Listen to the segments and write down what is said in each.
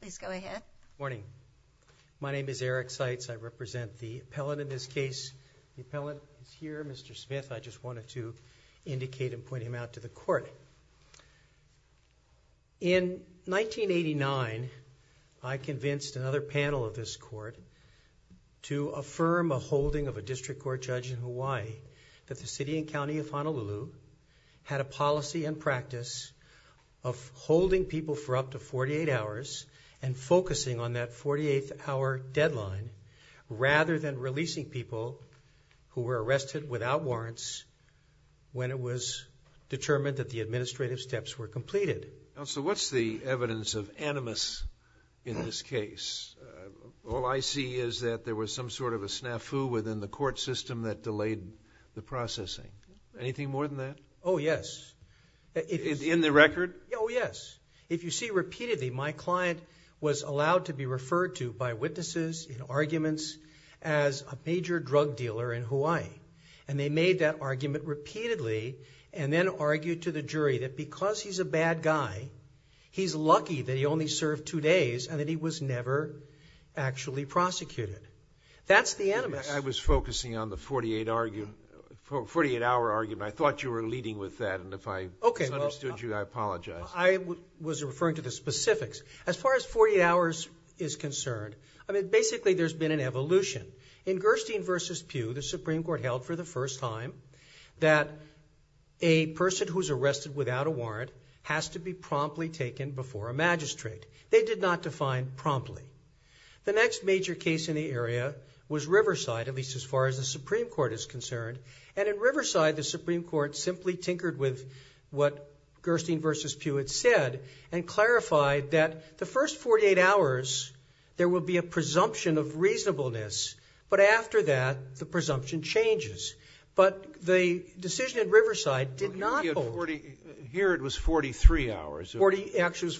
Please go ahead. Morning, my name is Eric Seitz. I represent the appellant in this case. The appellant is here, Mr. Smith. I just wanted to indicate and point him out to the court. In 1989, I convinced another panel of this court to affirm a holding of a district court judge in Hawaii that the City and County of Honolulu had a people for up to 48 hours and focusing on that 48th hour deadline rather than releasing people who were arrested without warrants when it was determined that the administrative steps were completed. So what's the evidence of animus in this case? All I see is that there was some sort of a snafu within the court system that delayed the processing. Anything more than that? Oh yes. In the record? Oh yes. If you see repeatedly, my client was allowed to be referred to by witnesses in arguments as a major drug dealer in Hawaii and they made that argument repeatedly and then argued to the jury that because he's a bad guy, he's lucky that he only served two days and that he was never actually prosecuted. That's the animus. I was focusing on the 48 hour argument. I thought you were leading with that and if I misunderstood you, I apologize. I was referring to the specifics. As far as 48 hours is concerned, I mean basically there's been an evolution. In Gerstein v. Pugh, the Supreme Court held for the first time that a person who's arrested without a warrant has to be promptly taken before a magistrate. They did not define promptly. The next major case in the area was Riverside, at least as far as the Supreme Court is concerned, and in the Supreme Court simply tinkered with what Gerstein v. Pugh had said and clarified that the first 48 hours, there will be a presumption of reasonableness, but after that, the presumption changes. But the decision at Riverside did not hold. Here it was 43 hours. Actually,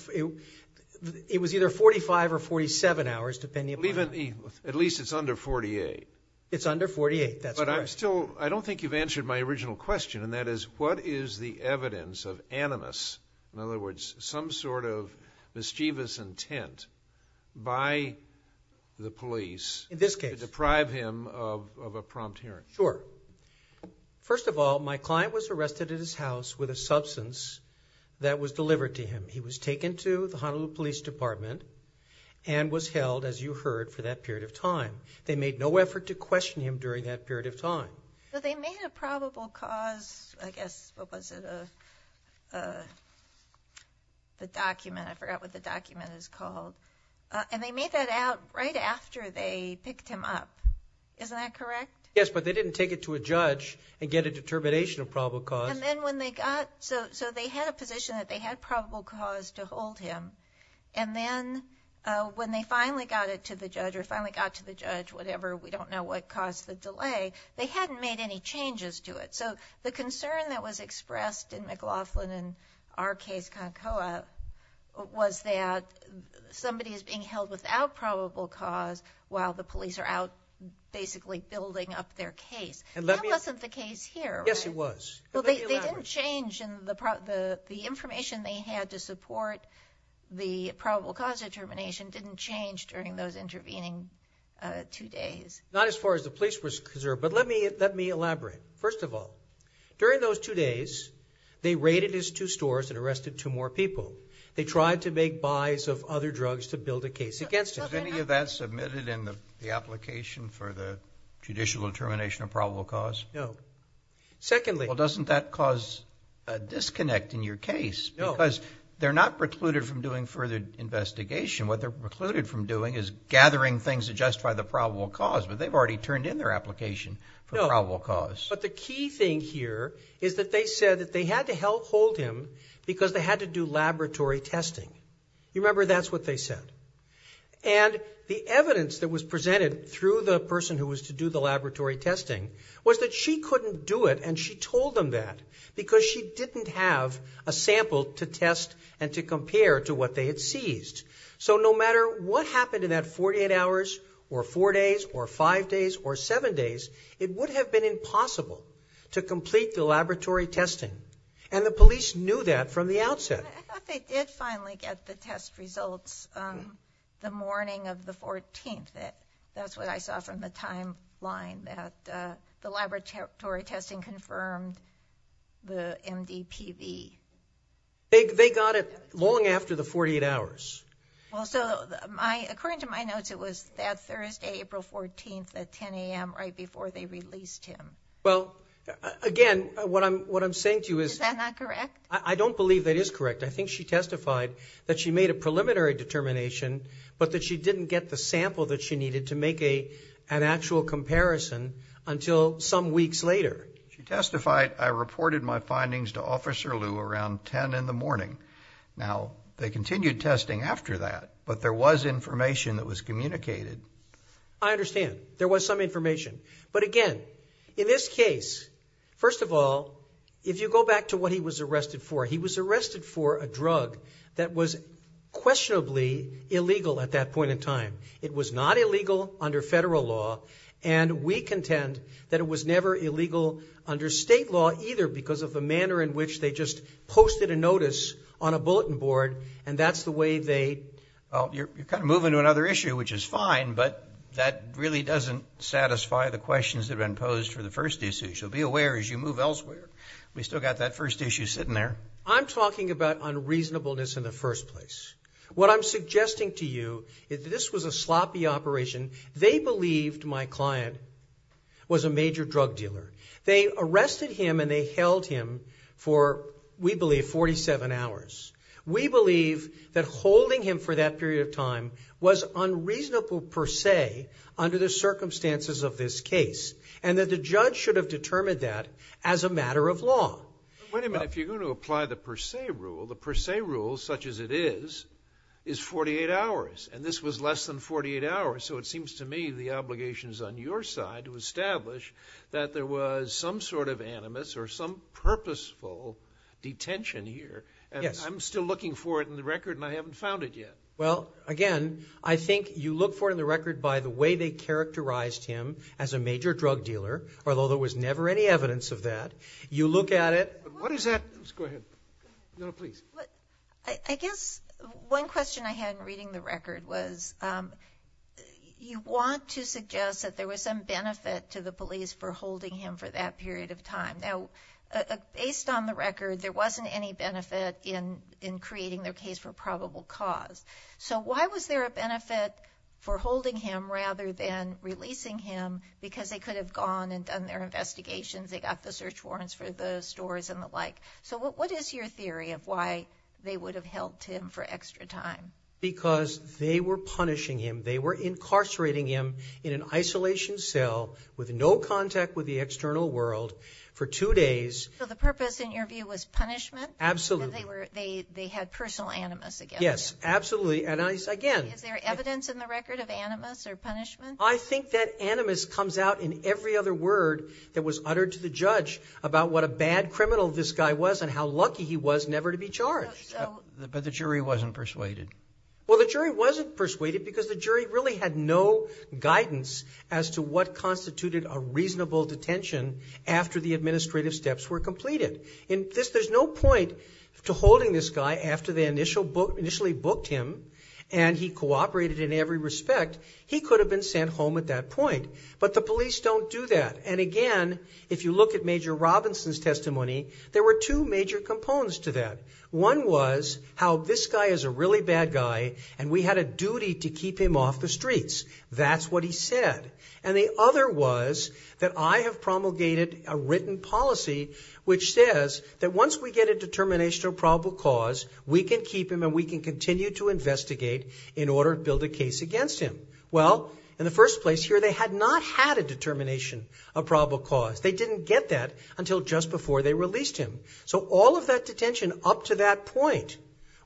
it was either 45 or 47 hours, depending upon... At least it's under 48. It's under 48, that's correct. But I'm still, I don't think you've answered the original question, and that is, what is the evidence of animus, in other words, some sort of mischievous intent by the police... In this case. ...to deprive him of a prompt hearing? Sure. First of all, my client was arrested at his house with a substance that was delivered to him. He was taken to the Honolulu Police Department and was held, as you heard, for that period of time. They made no effort to question him during that period of time. But they made a probable cause, I guess, what was it, the document, I forgot what the document is called, and they made that out right after they picked him up. Isn't that correct? Yes, but they didn't take it to a judge and get a determination of probable cause. And then when they got... So they had a position that they had probable cause to hold him, and then when they finally got it to the judge, or finally got to the judge, whatever, we don't know what caused the delay, they hadn't made any changes to it. So the concern that was expressed in McLaughlin in our case, Concoa, was that somebody is being held without probable cause while the police are out basically building up their case. And that wasn't the case here. Yes, it was. Well, they didn't change, and the information they had to support the probable cause determination didn't change during those intervening two days. Not as far as the police were concerned, but let me elaborate. First of all, during those two days, they raided his two stores and arrested two more people. They tried to make buys of other drugs to build a case against him. Has any of that submitted in the application for the judicial determination of probable cause? No. Secondly... Well, doesn't that cause a disconnect in your case? No. Because they're not precluded from doing is gathering things to justify the probable cause, but they've already turned in their application for probable cause. But the key thing here is that they said that they had to help hold him because they had to do laboratory testing. You remember, that's what they said. And the evidence that was presented through the person who was to do the laboratory testing was that she couldn't do it, and she told them that because she didn't have a sample to test and to compare to what they had seized. So no matter what happened in that 48 hours or four days or five days or seven days, it would have been impossible to complete the laboratory testing. And the police knew that from the outset. I thought they did finally get the test results the morning of the 14th. That's what I saw from the timeline that the laboratory testing confirmed the MDPV. They got it long after the 48 hours. Well, so, according to my notes, it was that Thursday, April 14th at 10 a.m. right before they released him. Well, again, what I'm saying to you is... Is that not correct? I don't believe that is correct. I think she testified that she made a preliminary determination, but that she didn't get the sample that she needed to make an actual comparison until some weeks later. She testified, I reported my findings to Officer Liu around 10 in the morning. Now, they continued testing after that, but there was information that was communicated. I understand. There was some information. But again, in this case, first of all, if you go back to what he was arrested for, he was arrested for a drug that was questionably illegal at that point in time. It was not illegal under federal law, and we contend that it was never illegal under state law either because of the manner in which they just posted a notice on a bulletin board, and that's the way they... Well, you're kind of moving to another issue, which is fine, but that really doesn't satisfy the questions that have been posed for the first issue. So, be aware as you move elsewhere, we still got that first issue sitting there. I'm talking about unreasonableness in the first place. What I'm suggesting to you is this was a sloppy operation. They believed my client was a major drug dealer. They arrested him and they held him for, we believe, 47 hours. We believe that holding him for that period of time was unreasonable per se under the circumstances of this case, and that the judge should have determined that as a matter of law. Wait a minute. If you're going to apply the per se rule, the per se rule is 48 hours, and this was less than 48 hours, so it seems to me the obligations on your side to establish that there was some sort of animus or some purposeful detention here. Yes. I'm still looking for it in the record and I haven't found it yet. Well, again, I think you look for it in the record by the way they characterized him as a major drug dealer, although there was never any evidence of that. You look at it... What is that? Go ahead. No, please. I guess one question I had reading the record was you want to suggest that there was some benefit to the police for holding him for that period of time. Now, based on the record, there wasn't any benefit in in creating their case for probable cause, so why was there a benefit for holding him rather than releasing him because they could have gone and done their investigations. They got the search warrants for the stores and the like, so what is your theory of why they would have held him for extra time? Because they were punishing him. They were incarcerating him in an isolation cell with no contact with the external world for two days. So the purpose, in your view, was punishment? Absolutely. They had personal animus against him? Yes, absolutely, and I again... Is there evidence in the record of animus or punishment? I think that animus comes out in every other word that was uttered to the judge about what a bad criminal this guy was and how the jury wasn't persuaded. Well, the jury wasn't persuaded because the jury really had no guidance as to what constituted a reasonable detention after the administrative steps were completed. In this, there's no point to holding this guy after they initially booked him and he cooperated in every respect. He could have been sent home at that point, but the police don't do that. And again, if you look at Major Robinson's testimony, there were two major components to that. One was how this guy is a really bad guy and we had a duty to keep him off the streets. That's what he said. And the other was that I have promulgated a written policy which says that once we get a determination of probable cause, we can keep him and we can continue to investigate in order to build a case against him. Well, in the first place here, they had not had a determination of probable cause. They didn't get that until just before they released him. So all of that detention up to that point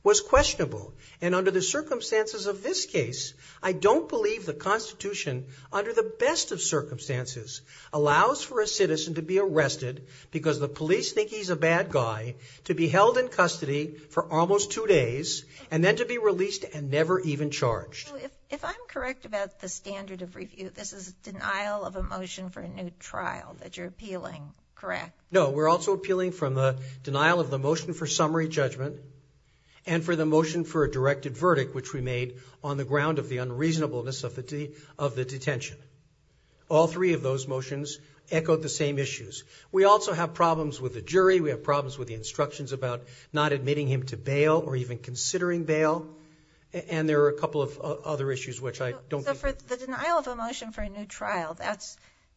was questionable. And under the circumstances of this case, I don't believe the Constitution, under the best of circumstances, allows for a citizen to be arrested because the police think he's a bad guy, to be held in custody for almost two days, and then to be released and never even charged. If I'm correct about the standard of review, this is denial of a motion for a new trial that you're appealing, correct? No, we're also appealing from the denial of the motion for summary judgment and for the motion for a directed verdict which we made on the ground of the unreasonableness of the detention. All three of those motions echoed the same issues. We also have problems with the jury, we have problems with the instructions about not admitting him to bail or even considering bail, and there are a couple of other issues which I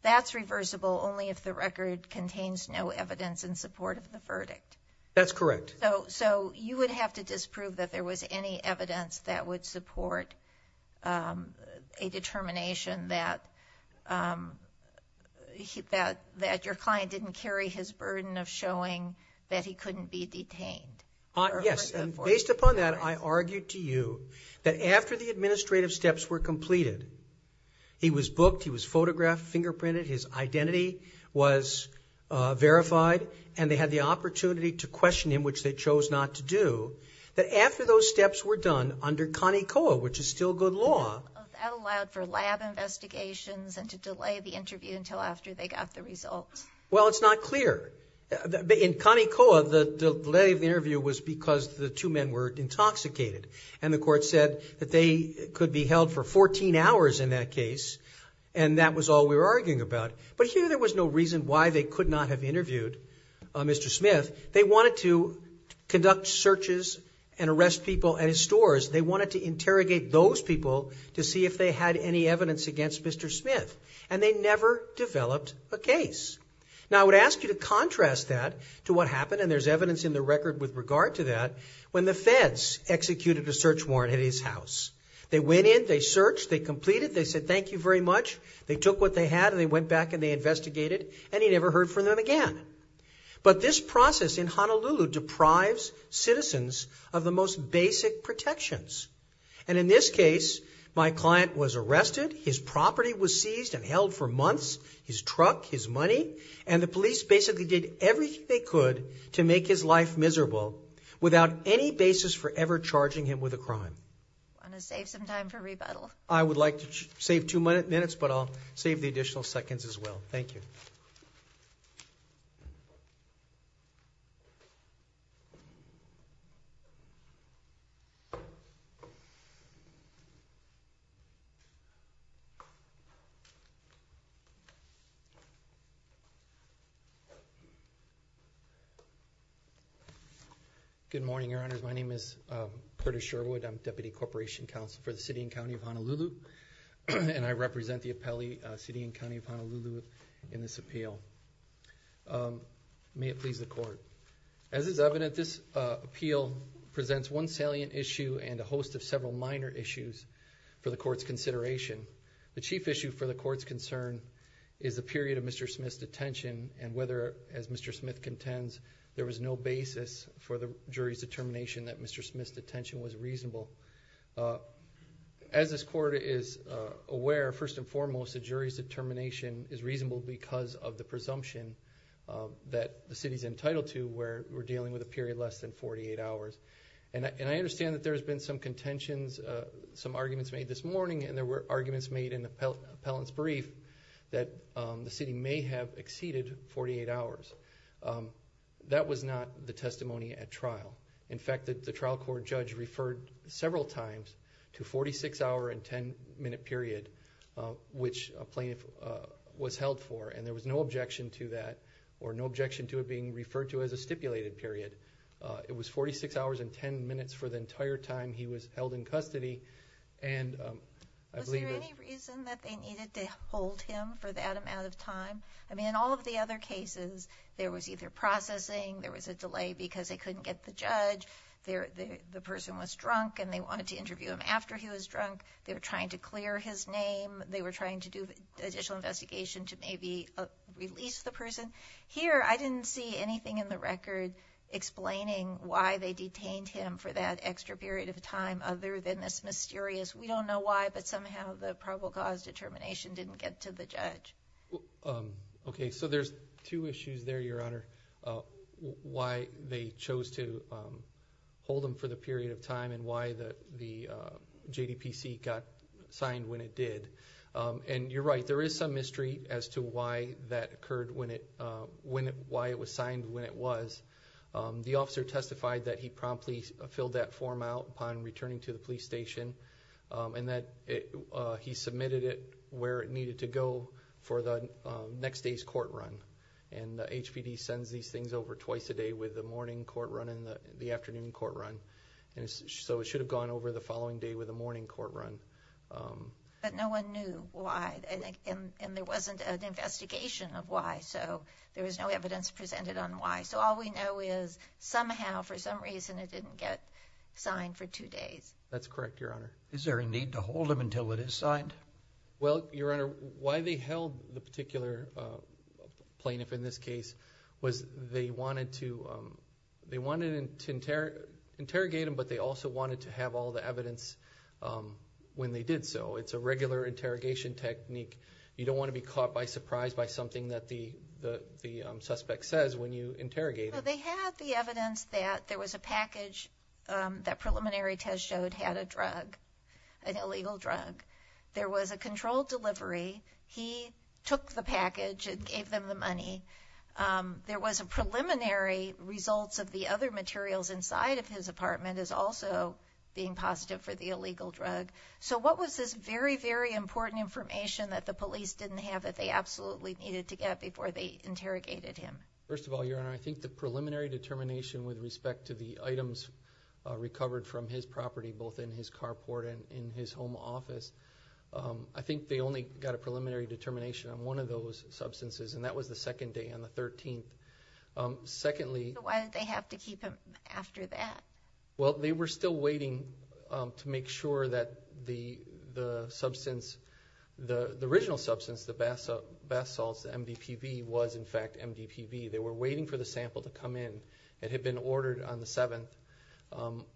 That's reversible only if the record contains no evidence in support of the verdict. That's correct. So you would have to disprove that there was any evidence that would support a determination that your client didn't carry his burden of showing that he couldn't be detained. Yes, and based upon that, I argued to you that after the administrative steps were completed, he was booked, he was identified, his identity was verified, and they had the opportunity to question him, which they chose not to do, that after those steps were done under CONECOA, which is still good law. That allowed for lab investigations and to delay the interview until after they got the results. Well, it's not clear. In CONECOA, the delay of the interview was because the two men were intoxicated, and the court said that they could be held for 14 hours in that case, and that was all we were arguing about. But here, there was no reason why they could not have interviewed Mr. Smith. They wanted to conduct searches and arrest people at his stores. They wanted to interrogate those people to see if they had any evidence against Mr. Smith, and they never developed a case. Now, I would ask you to contrast that to what happened, and there's evidence in the record with regard to that, when the feds executed a search warrant at his house. They went in, they searched, they completed, they said, thank you very much. They took what they had, and they went back, and they investigated, and he never heard from them again. But this process in Honolulu deprives citizens of the most basic protections, and in this case, my client was arrested, his property was seized and held for months, his truck, his money, and the police basically did everything they could to make his life miserable without any basis for ever charging him with a crime. I'm going to save some time for rebuttal. I would like to save two minutes, but I'll save the additional seconds as well. Thank you. Good morning, Your Honors. My name is Curtis Sherwood. I'm Deputy Corporation Counsel for the City and County of Honolulu, and I represent the appellee City and County of Honolulu in this appeal. May it please the Court. As is evident, this appeal presents one salient issue and a host of several minor issues for the Court's consideration. The chief issue for the Court's concern is the period of Mr. Smith's detention, and whether, as Mr. Smith contends, there was no basis for the jury's determination that Mr. Smith's detention was reasonable because of the presumption that the City's entitled to where we're dealing with a period less than 48 hours. I understand that there has been some contentions, some arguments made this morning, and there were arguments made in the appellant's brief that the City may have exceeded 48 hours. That was not the testimony at trial. In fact, the trial court judge referred several times to a 46-hour and 10-minute period, which a plaintiff was held for, and there was no objection to that or no objection to it being referred to as a stipulated period. It was 46 hours and 10 minutes for the entire time he was held in custody. Was there any reason that they needed to hold him for that amount of time? I mean, in all of the other cases, there was either processing, there was a delay because they couldn't get the judge, the person was to interview him after he was drunk, they were trying to clear his name, they were trying to do additional investigation to maybe release the person. Here, I didn't see anything in the record explaining why they detained him for that extra period of time other than this mysterious, we don't know why, but somehow the probable cause determination didn't get to the judge. Okay, so there's two issues there, Your Honor. Why they chose to hold him for the period of time and why the JDPC got signed when it did. And you're right, there is some mystery as to why that occurred when it, why it was signed when it was. The officer testified that he promptly filled that form out upon returning to the police station and that he submitted it where it needed to go for the next day's court run. And the HPD sends these things over twice a day with the morning court run and the afternoon court run. And so it should have gone over the following day with a morning court run. But no one knew why and there wasn't an investigation of why, so there was no evidence presented on why. So all we know is somehow, for some reason, it didn't get signed for two days. That's correct, Your Honor. Is there a need to hold him until it is signed? Well, Your Honor, why they held the particular plaintiff in this case was they wanted to, they wanted to interrogate him, but they also wanted to have all the evidence when they did so. It's a regular interrogation technique. You don't want to be caught by surprise by something that the the suspect says when you interrogate him. They had the evidence that there was a package that preliminary test showed had a drug, an illegal drug. There was a controlled delivery. He took the package and gave them the money. There was a preliminary results of the other materials inside of his apartment as also being positive for the illegal drug. So what was this very, very important information that the police didn't have that they absolutely needed to get before they interrogated him? First of all, Your Honor, I think the preliminary determination with respect to the items recovered from his property, both in his carport and in his home office, I think they only got a preliminary determination on one of those substances, and that was the second day on the 13th. Secondly, why did they have to keep him after that? Well, they were still waiting to make sure that the substance, the original substance, the bath salts, the MDPV, was in fact MDPV. They were waiting for the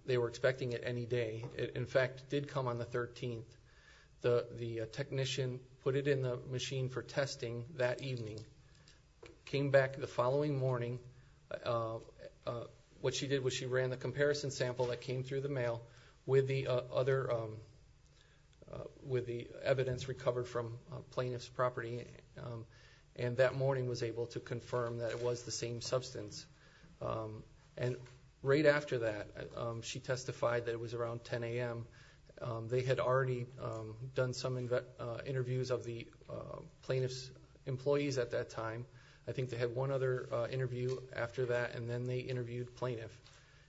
they were expecting it any day. In fact, it did come on the 13th. The technician put it in the machine for testing that evening, came back the following morning. What she did was she ran the comparison sample that came through the mail with the other, with the evidence recovered from plaintiff's property, and that morning was able to confirm that it was the same substance. And right after that, she testified that it was around 10 a.m. They had already done some interviews of the plaintiff's employees at that time. I think they had one other interview after that, and then they interviewed plaintiff,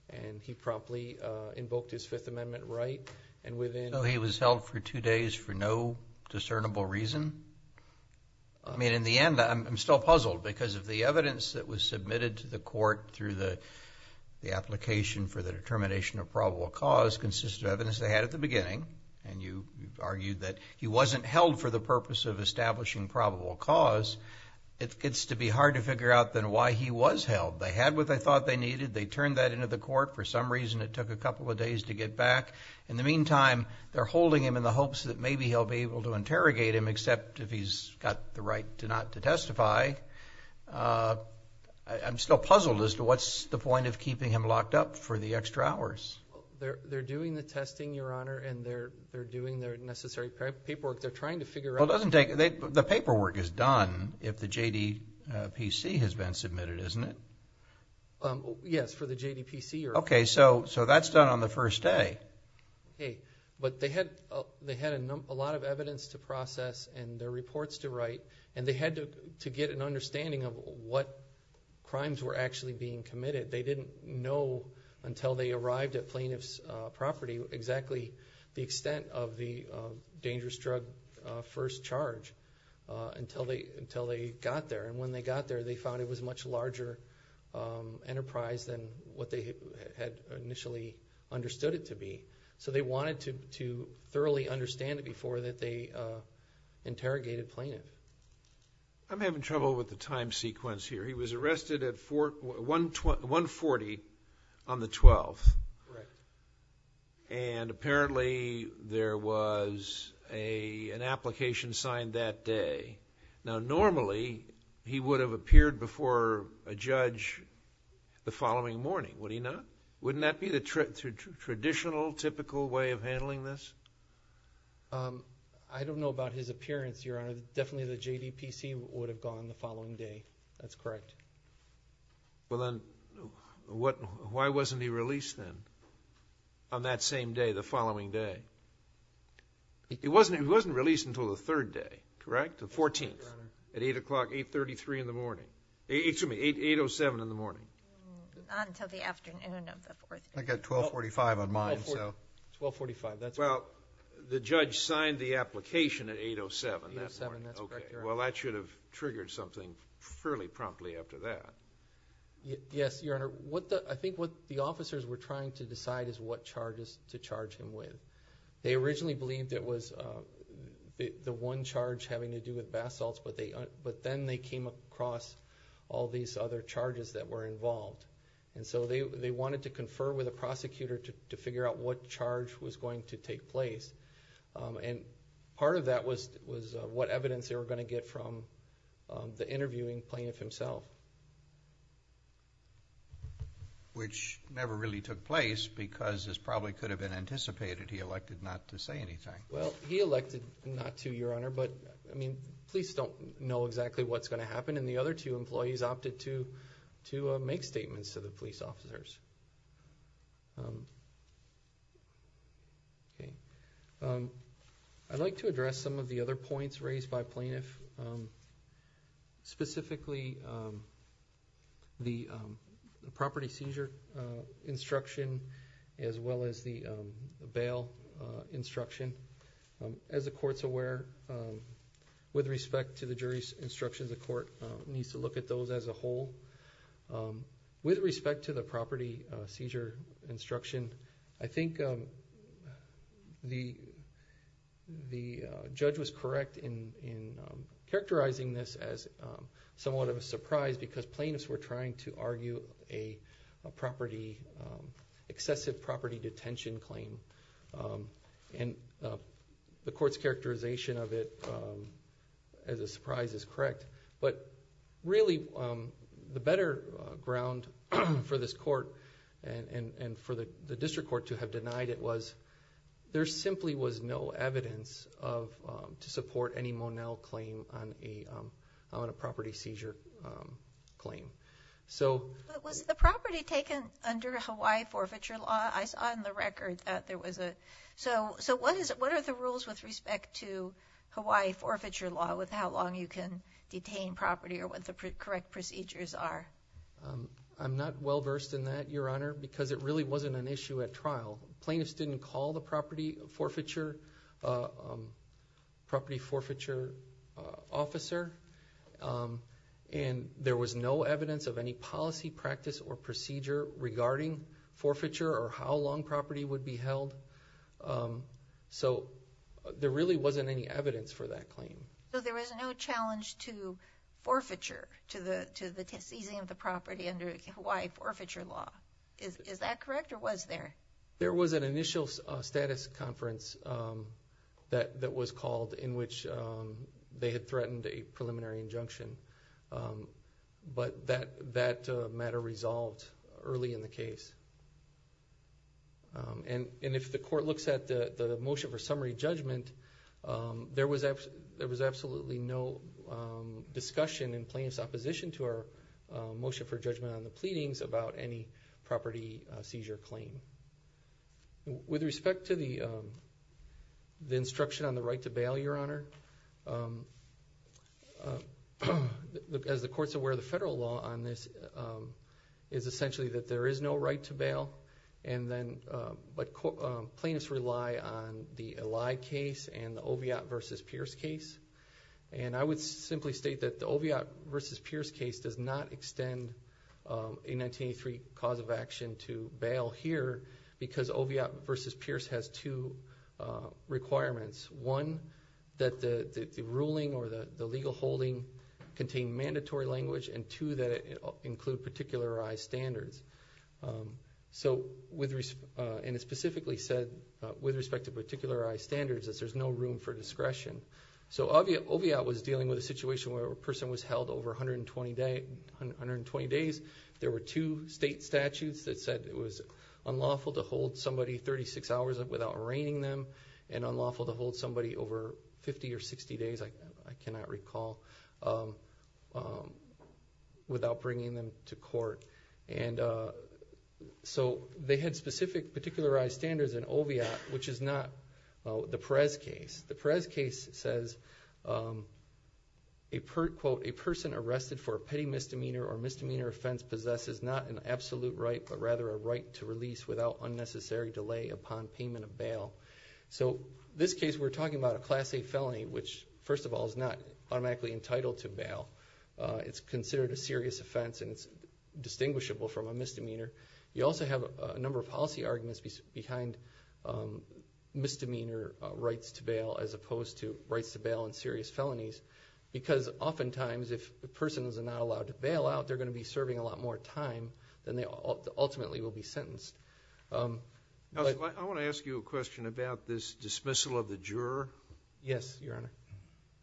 and he promptly invoked his Fifth Amendment right, and within... So he was held for two days for no discernible reason? I mean, in the end, I'm still puzzled because of the application for the determination of probable cause consists of evidence they had at the beginning, and you argued that he wasn't held for the purpose of establishing probable cause. It's to be hard to figure out then why he was held. They had what they thought they needed. They turned that into the court. For some reason, it took a couple of days to get back. In the meantime, they're holding him in the hopes that maybe he'll be able to interrogate him, except if he's got the right to not to testify. I'm still puzzled as to what's the point of being locked up for the extra hours. They're doing the testing, Your Honor, and they're doing their necessary paperwork. They're trying to figure out... The paperwork is done if the JDPC has been submitted, isn't it? Yes, for the JDPC, Your Honor. Okay, so that's done on the first day. But they had a lot of evidence to process and their reports to write, and they had to get an understanding of what crimes were actually being committed. They didn't know until they arrived at plaintiff's property exactly the extent of the dangerous drug first charge until they got there. And when they got there, they found it was a much larger enterprise than what they had initially understood it to be. So they wanted to thoroughly understand it before they interrogated the plaintiff. I'm having trouble with the time on the 12th, and apparently there was an application signed that day. Now, normally, he would have appeared before a judge the following morning, would he not? Wouldn't that be the traditional, typical way of handling this? I don't know about his appearance, Your Honor. Definitely the JDPC would have on the following day, that's correct. Well, then, why wasn't he released then, on that same day, the following day? He wasn't released until the third day, correct? The 14th, at 8 o'clock, 8.33 in the morning. Excuse me, 8.07 in the morning. Not until the afternoon of the 4th. I got 12.45 on mine, so. 12.45, that's correct. Well, the judge signed the application at 8.07. 8.07, that's correct, Your Honor. Well, that should have triggered something fairly promptly after that. Yes, Your Honor. I think what the officers were trying to decide is what charges to charge him with. They originally believed it was the one charge having to do with basalts, but then they came across all these other charges that were involved. And so they wanted to confer with a prosecutor to figure out what charge was going to take place. And part of that was what evidence they were going to get from the interviewing plaintiff himself. Which never really took place, because this probably could have been anticipated. He elected not to say anything. Well, he elected not to, Your Honor. But, I mean, police don't know exactly what's going to happen. And the other two employees opted to make statements to the police officers. I'd like to address some of the other points raised by plaintiff. Specifically, the property seizure instruction, as well as the bail instruction. As the court's aware, with respect to the jury's instructions, the court needs to look at those as a whole. With respect to the property seizure instruction, the judge was correct in characterizing this as somewhat of a surprise, because plaintiffs were trying to argue an excessive property detention claim. And the court's characterization of it as a surprise is correct. But really, the better ground for this court and for the district court to have denied it was, there simply was no evidence to support any Monell claim on a property seizure claim. But was the property taken under Hawaii forfeiture law? I saw in the record that there was a... So what are the rules with respect to Hawaii forfeiture law with how long you can detain property or what the correct procedures are? I'm not well versed in that, Your Honor, because it really wasn't an issue at trial. Plaintiffs didn't call the property forfeiture officer. And there was no evidence of any policy, practice, or procedure regarding forfeiture or how long property would be held. So there really wasn't any evidence for that claim. So there was no challenge to forfeiture, to the seizing of the property under Hawaii forfeiture law. Is that correct or was there? There was an initial status conference that was called in which they had threatened a preliminary injunction. But that matter resolved early in the case. And if the court looks at the motion for summary judgment, there was absolutely no discussion in plaintiff's opposition to our motion for judgment on the pleadings about any property seizure claim. With respect to the instruction on the right to bail, Your Honor, as the court's aware, the federal law on this is essentially that there is no right to bail. But plaintiffs rely on the Eli case and the Oviatt v. Pierce case. And I would simply state that the Oviatt v. Pierce case does not extend a 1983 cause of action to bail here because Oviatt v. Pierce has two requirements. One, that the ruling or the legal holding contain mandatory language, and two, that it include particularized standards. And it specifically said, with respect to particularized standards, that there's no room for discretion. So Oviatt was dealing with a situation where a person was held over 120 days. There were two state statutes that said it was unlawful to hold somebody 36 hours without arraigning them and unlawful to hold somebody over 50 or 60 days, I cannot recall, without bringing them to court. And so they had specific particularized standards in Oviatt, which is not the Pierce case. The Pierce case says, quote, a person arrested for a petty misdemeanor or misdemeanor offense possesses not an absolute right, but rather a right to release without unnecessary delay upon payment of bail. So this case, we're talking about a Class A felony, which, first of all, is not automatically entitled to bail. It's considered a serious offense and it's distinguishable from a misdemeanor. You also have a number of policy arguments behind misdemeanor rights to bail as opposed to rights to bail in serious felonies. Because oftentimes, if the person is not allowed to bail out, they're going to be serving a lot more time than they ultimately will be sentenced. I want to ask you a question about this dismissal of the juror. Yes, Your Honor.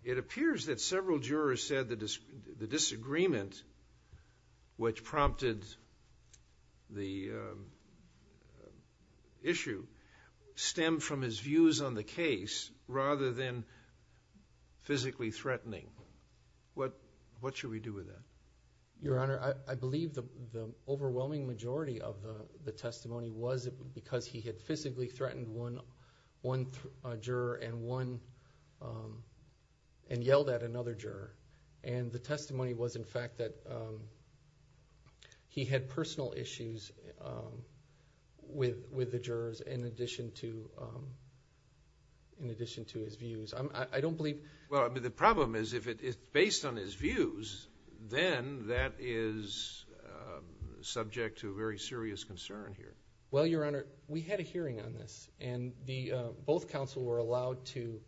It appears that several jurors said that the disagreement, which prompted the issue, stemmed from his views on the case rather than physically threatening. What should we do with that? Your Honor, I believe the overwhelming majority of the testimony was because he had physically threatened one juror and yelled at another juror. The testimony was, in fact, that he had personal issues with the jurors in addition to his views. I don't believe... The problem is, if it's based on his views, then that is subject to very serious concern here. Well, Your Honor, we had a hearing on this. Both counsel were allowed to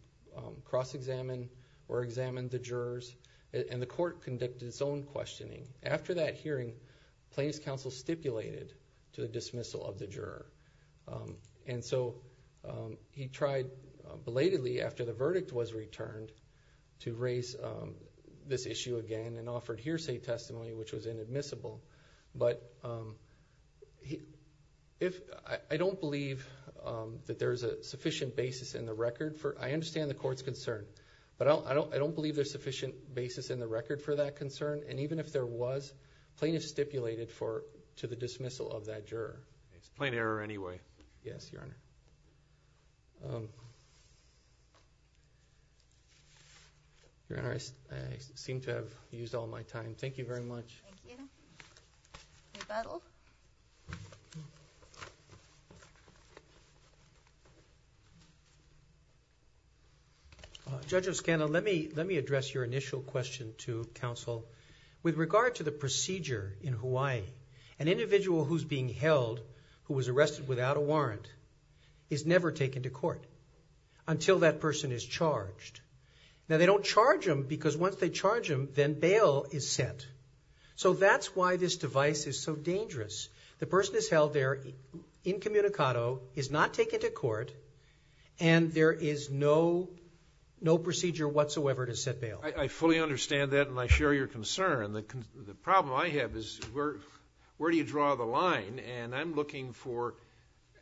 cross-examine or examine the jurors. The court conducted its own questioning. After that hearing, plaintiff's counsel stipulated to the dismissal of the juror to raise this issue again and offered hearsay testimony, which was inadmissible. I don't believe that there's a sufficient basis in the record for... I understand the court's concern, but I don't believe there's sufficient basis in the record for that concern. Even if there was, plaintiff stipulated to the dismissal of that juror. It's plain error anyway. Yes, Your Honor. Your Honor, I seem to have used all my time. Thank you very much. Thank you. Rebuttal. Judge Oscana, let me address your initial question to counsel. With regard to the procedure in Hawaii, an individual who's being held, who was arrested without a warrant, is never taken to court until that person is charged. They don't charge them because once they charge them, then bail is set. That's why this device is so dangerous. The person is held there incommunicado, is not taken to court, and there is no procedure whatsoever to set bail. I fully understand that, and I share your concern. The problem I have is where do you draw the line? I'm looking for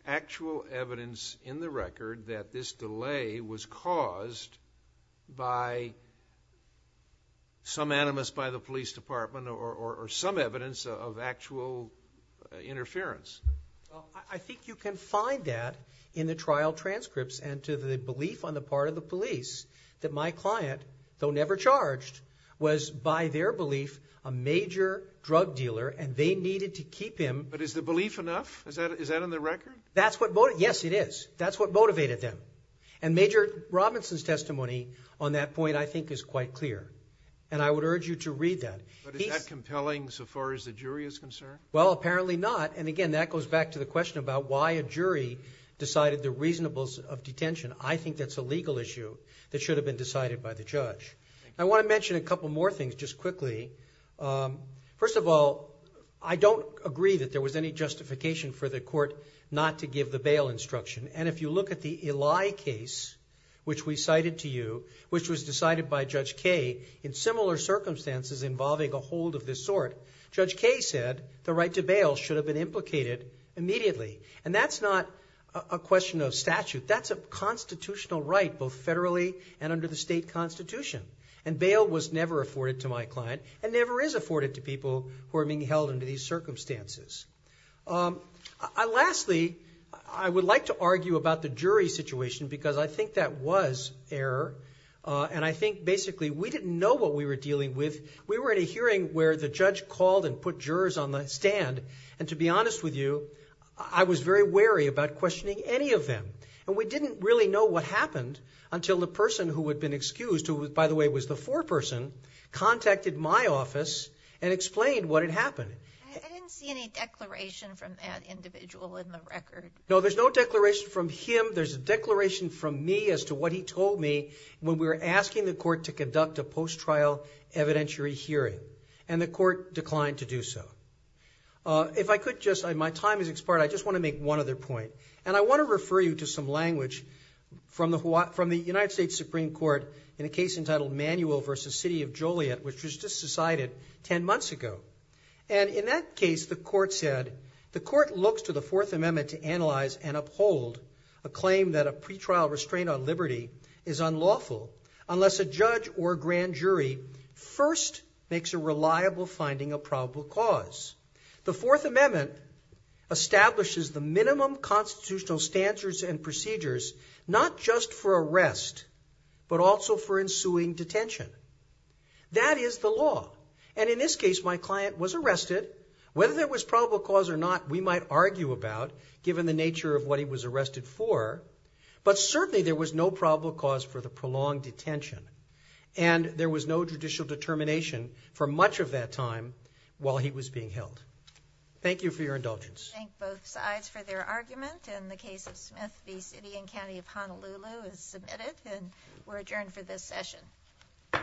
actual evidence in the record that this delay was caused by some animus by the police department or some evidence of actual interference. I think you can find that in the trial transcripts and to the belief on the part of the police that my client, though never charged, was by their belief a major drug dealer, and they needed to keep him. But is the belief enough? Is that in the record? Yes, it is. That's what motivated them. And Major Robinson's testimony on that point, I think, is quite clear, and I would urge you to read that. But is that compelling so far as the jury is concerned? Well, apparently not, and again, that goes back to the question about why a jury decided the reasonableness of detention. I think that's a legal issue that should have been decided by the judge. I want to mention a couple more things just quickly. First of all, I don't agree that there was any justification for the court not to give the bail instruction. And if you look at the Eli case, which we cited to you, which was decided by Judge Kaye in similar circumstances involving a hold of this sort, Judge Kaye said the right to bail should have been implicated immediately. And that's not a question of statute. That's a constitutional right, both federally and under the state constitution. And bail was never afforded to my client and never is afforded to people who are being held under these circumstances. Lastly, I would like to argue about the jury situation because I think that was error, and I think basically we didn't know what we were dealing with. We were in a hearing where the judge called and put jurors on the stand, and to be honest with you, I was very wary about questioning any of them. And we didn't really know what happened until the person who had been excused, who, by the way, was the foreperson, contacted my office and explained what had happened. I didn't see any declaration from that individual in the record. No, there's no declaration from him. There's a declaration from me as to what he told me when we were asking the court to conduct a post-trial evidentiary hearing, and the court declined to do so. My time has expired. I just want to make one other point. And I want to refer you to some language from the United States Supreme Court in a case entitled Manuel v. City of Joliet, which was just decided 10 months ago. And in that case, the court said, the court looks to the Fourth Amendment to analyze and uphold a claim that a pretrial restraint on liberty is unlawful unless a judge or grand jury first makes a reliable finding a probable cause. The Fourth Amendment establishes the minimum constitutional standards and procedures not just for arrest but also for ensuing detention. That is the law. And in this case, my client was arrested. Whether there was probable cause or not, we might argue about, given the nature of what he was arrested for. But certainly, there was no probable cause for the prolonged detention. And there was no judicial determination for much of that time while he was being held. Thank you for your indulgence. I thank both sides for their argument. In the case of Smith v. City and County of Honolulu is submitted, and we're adjourned for this session. Bye-bye.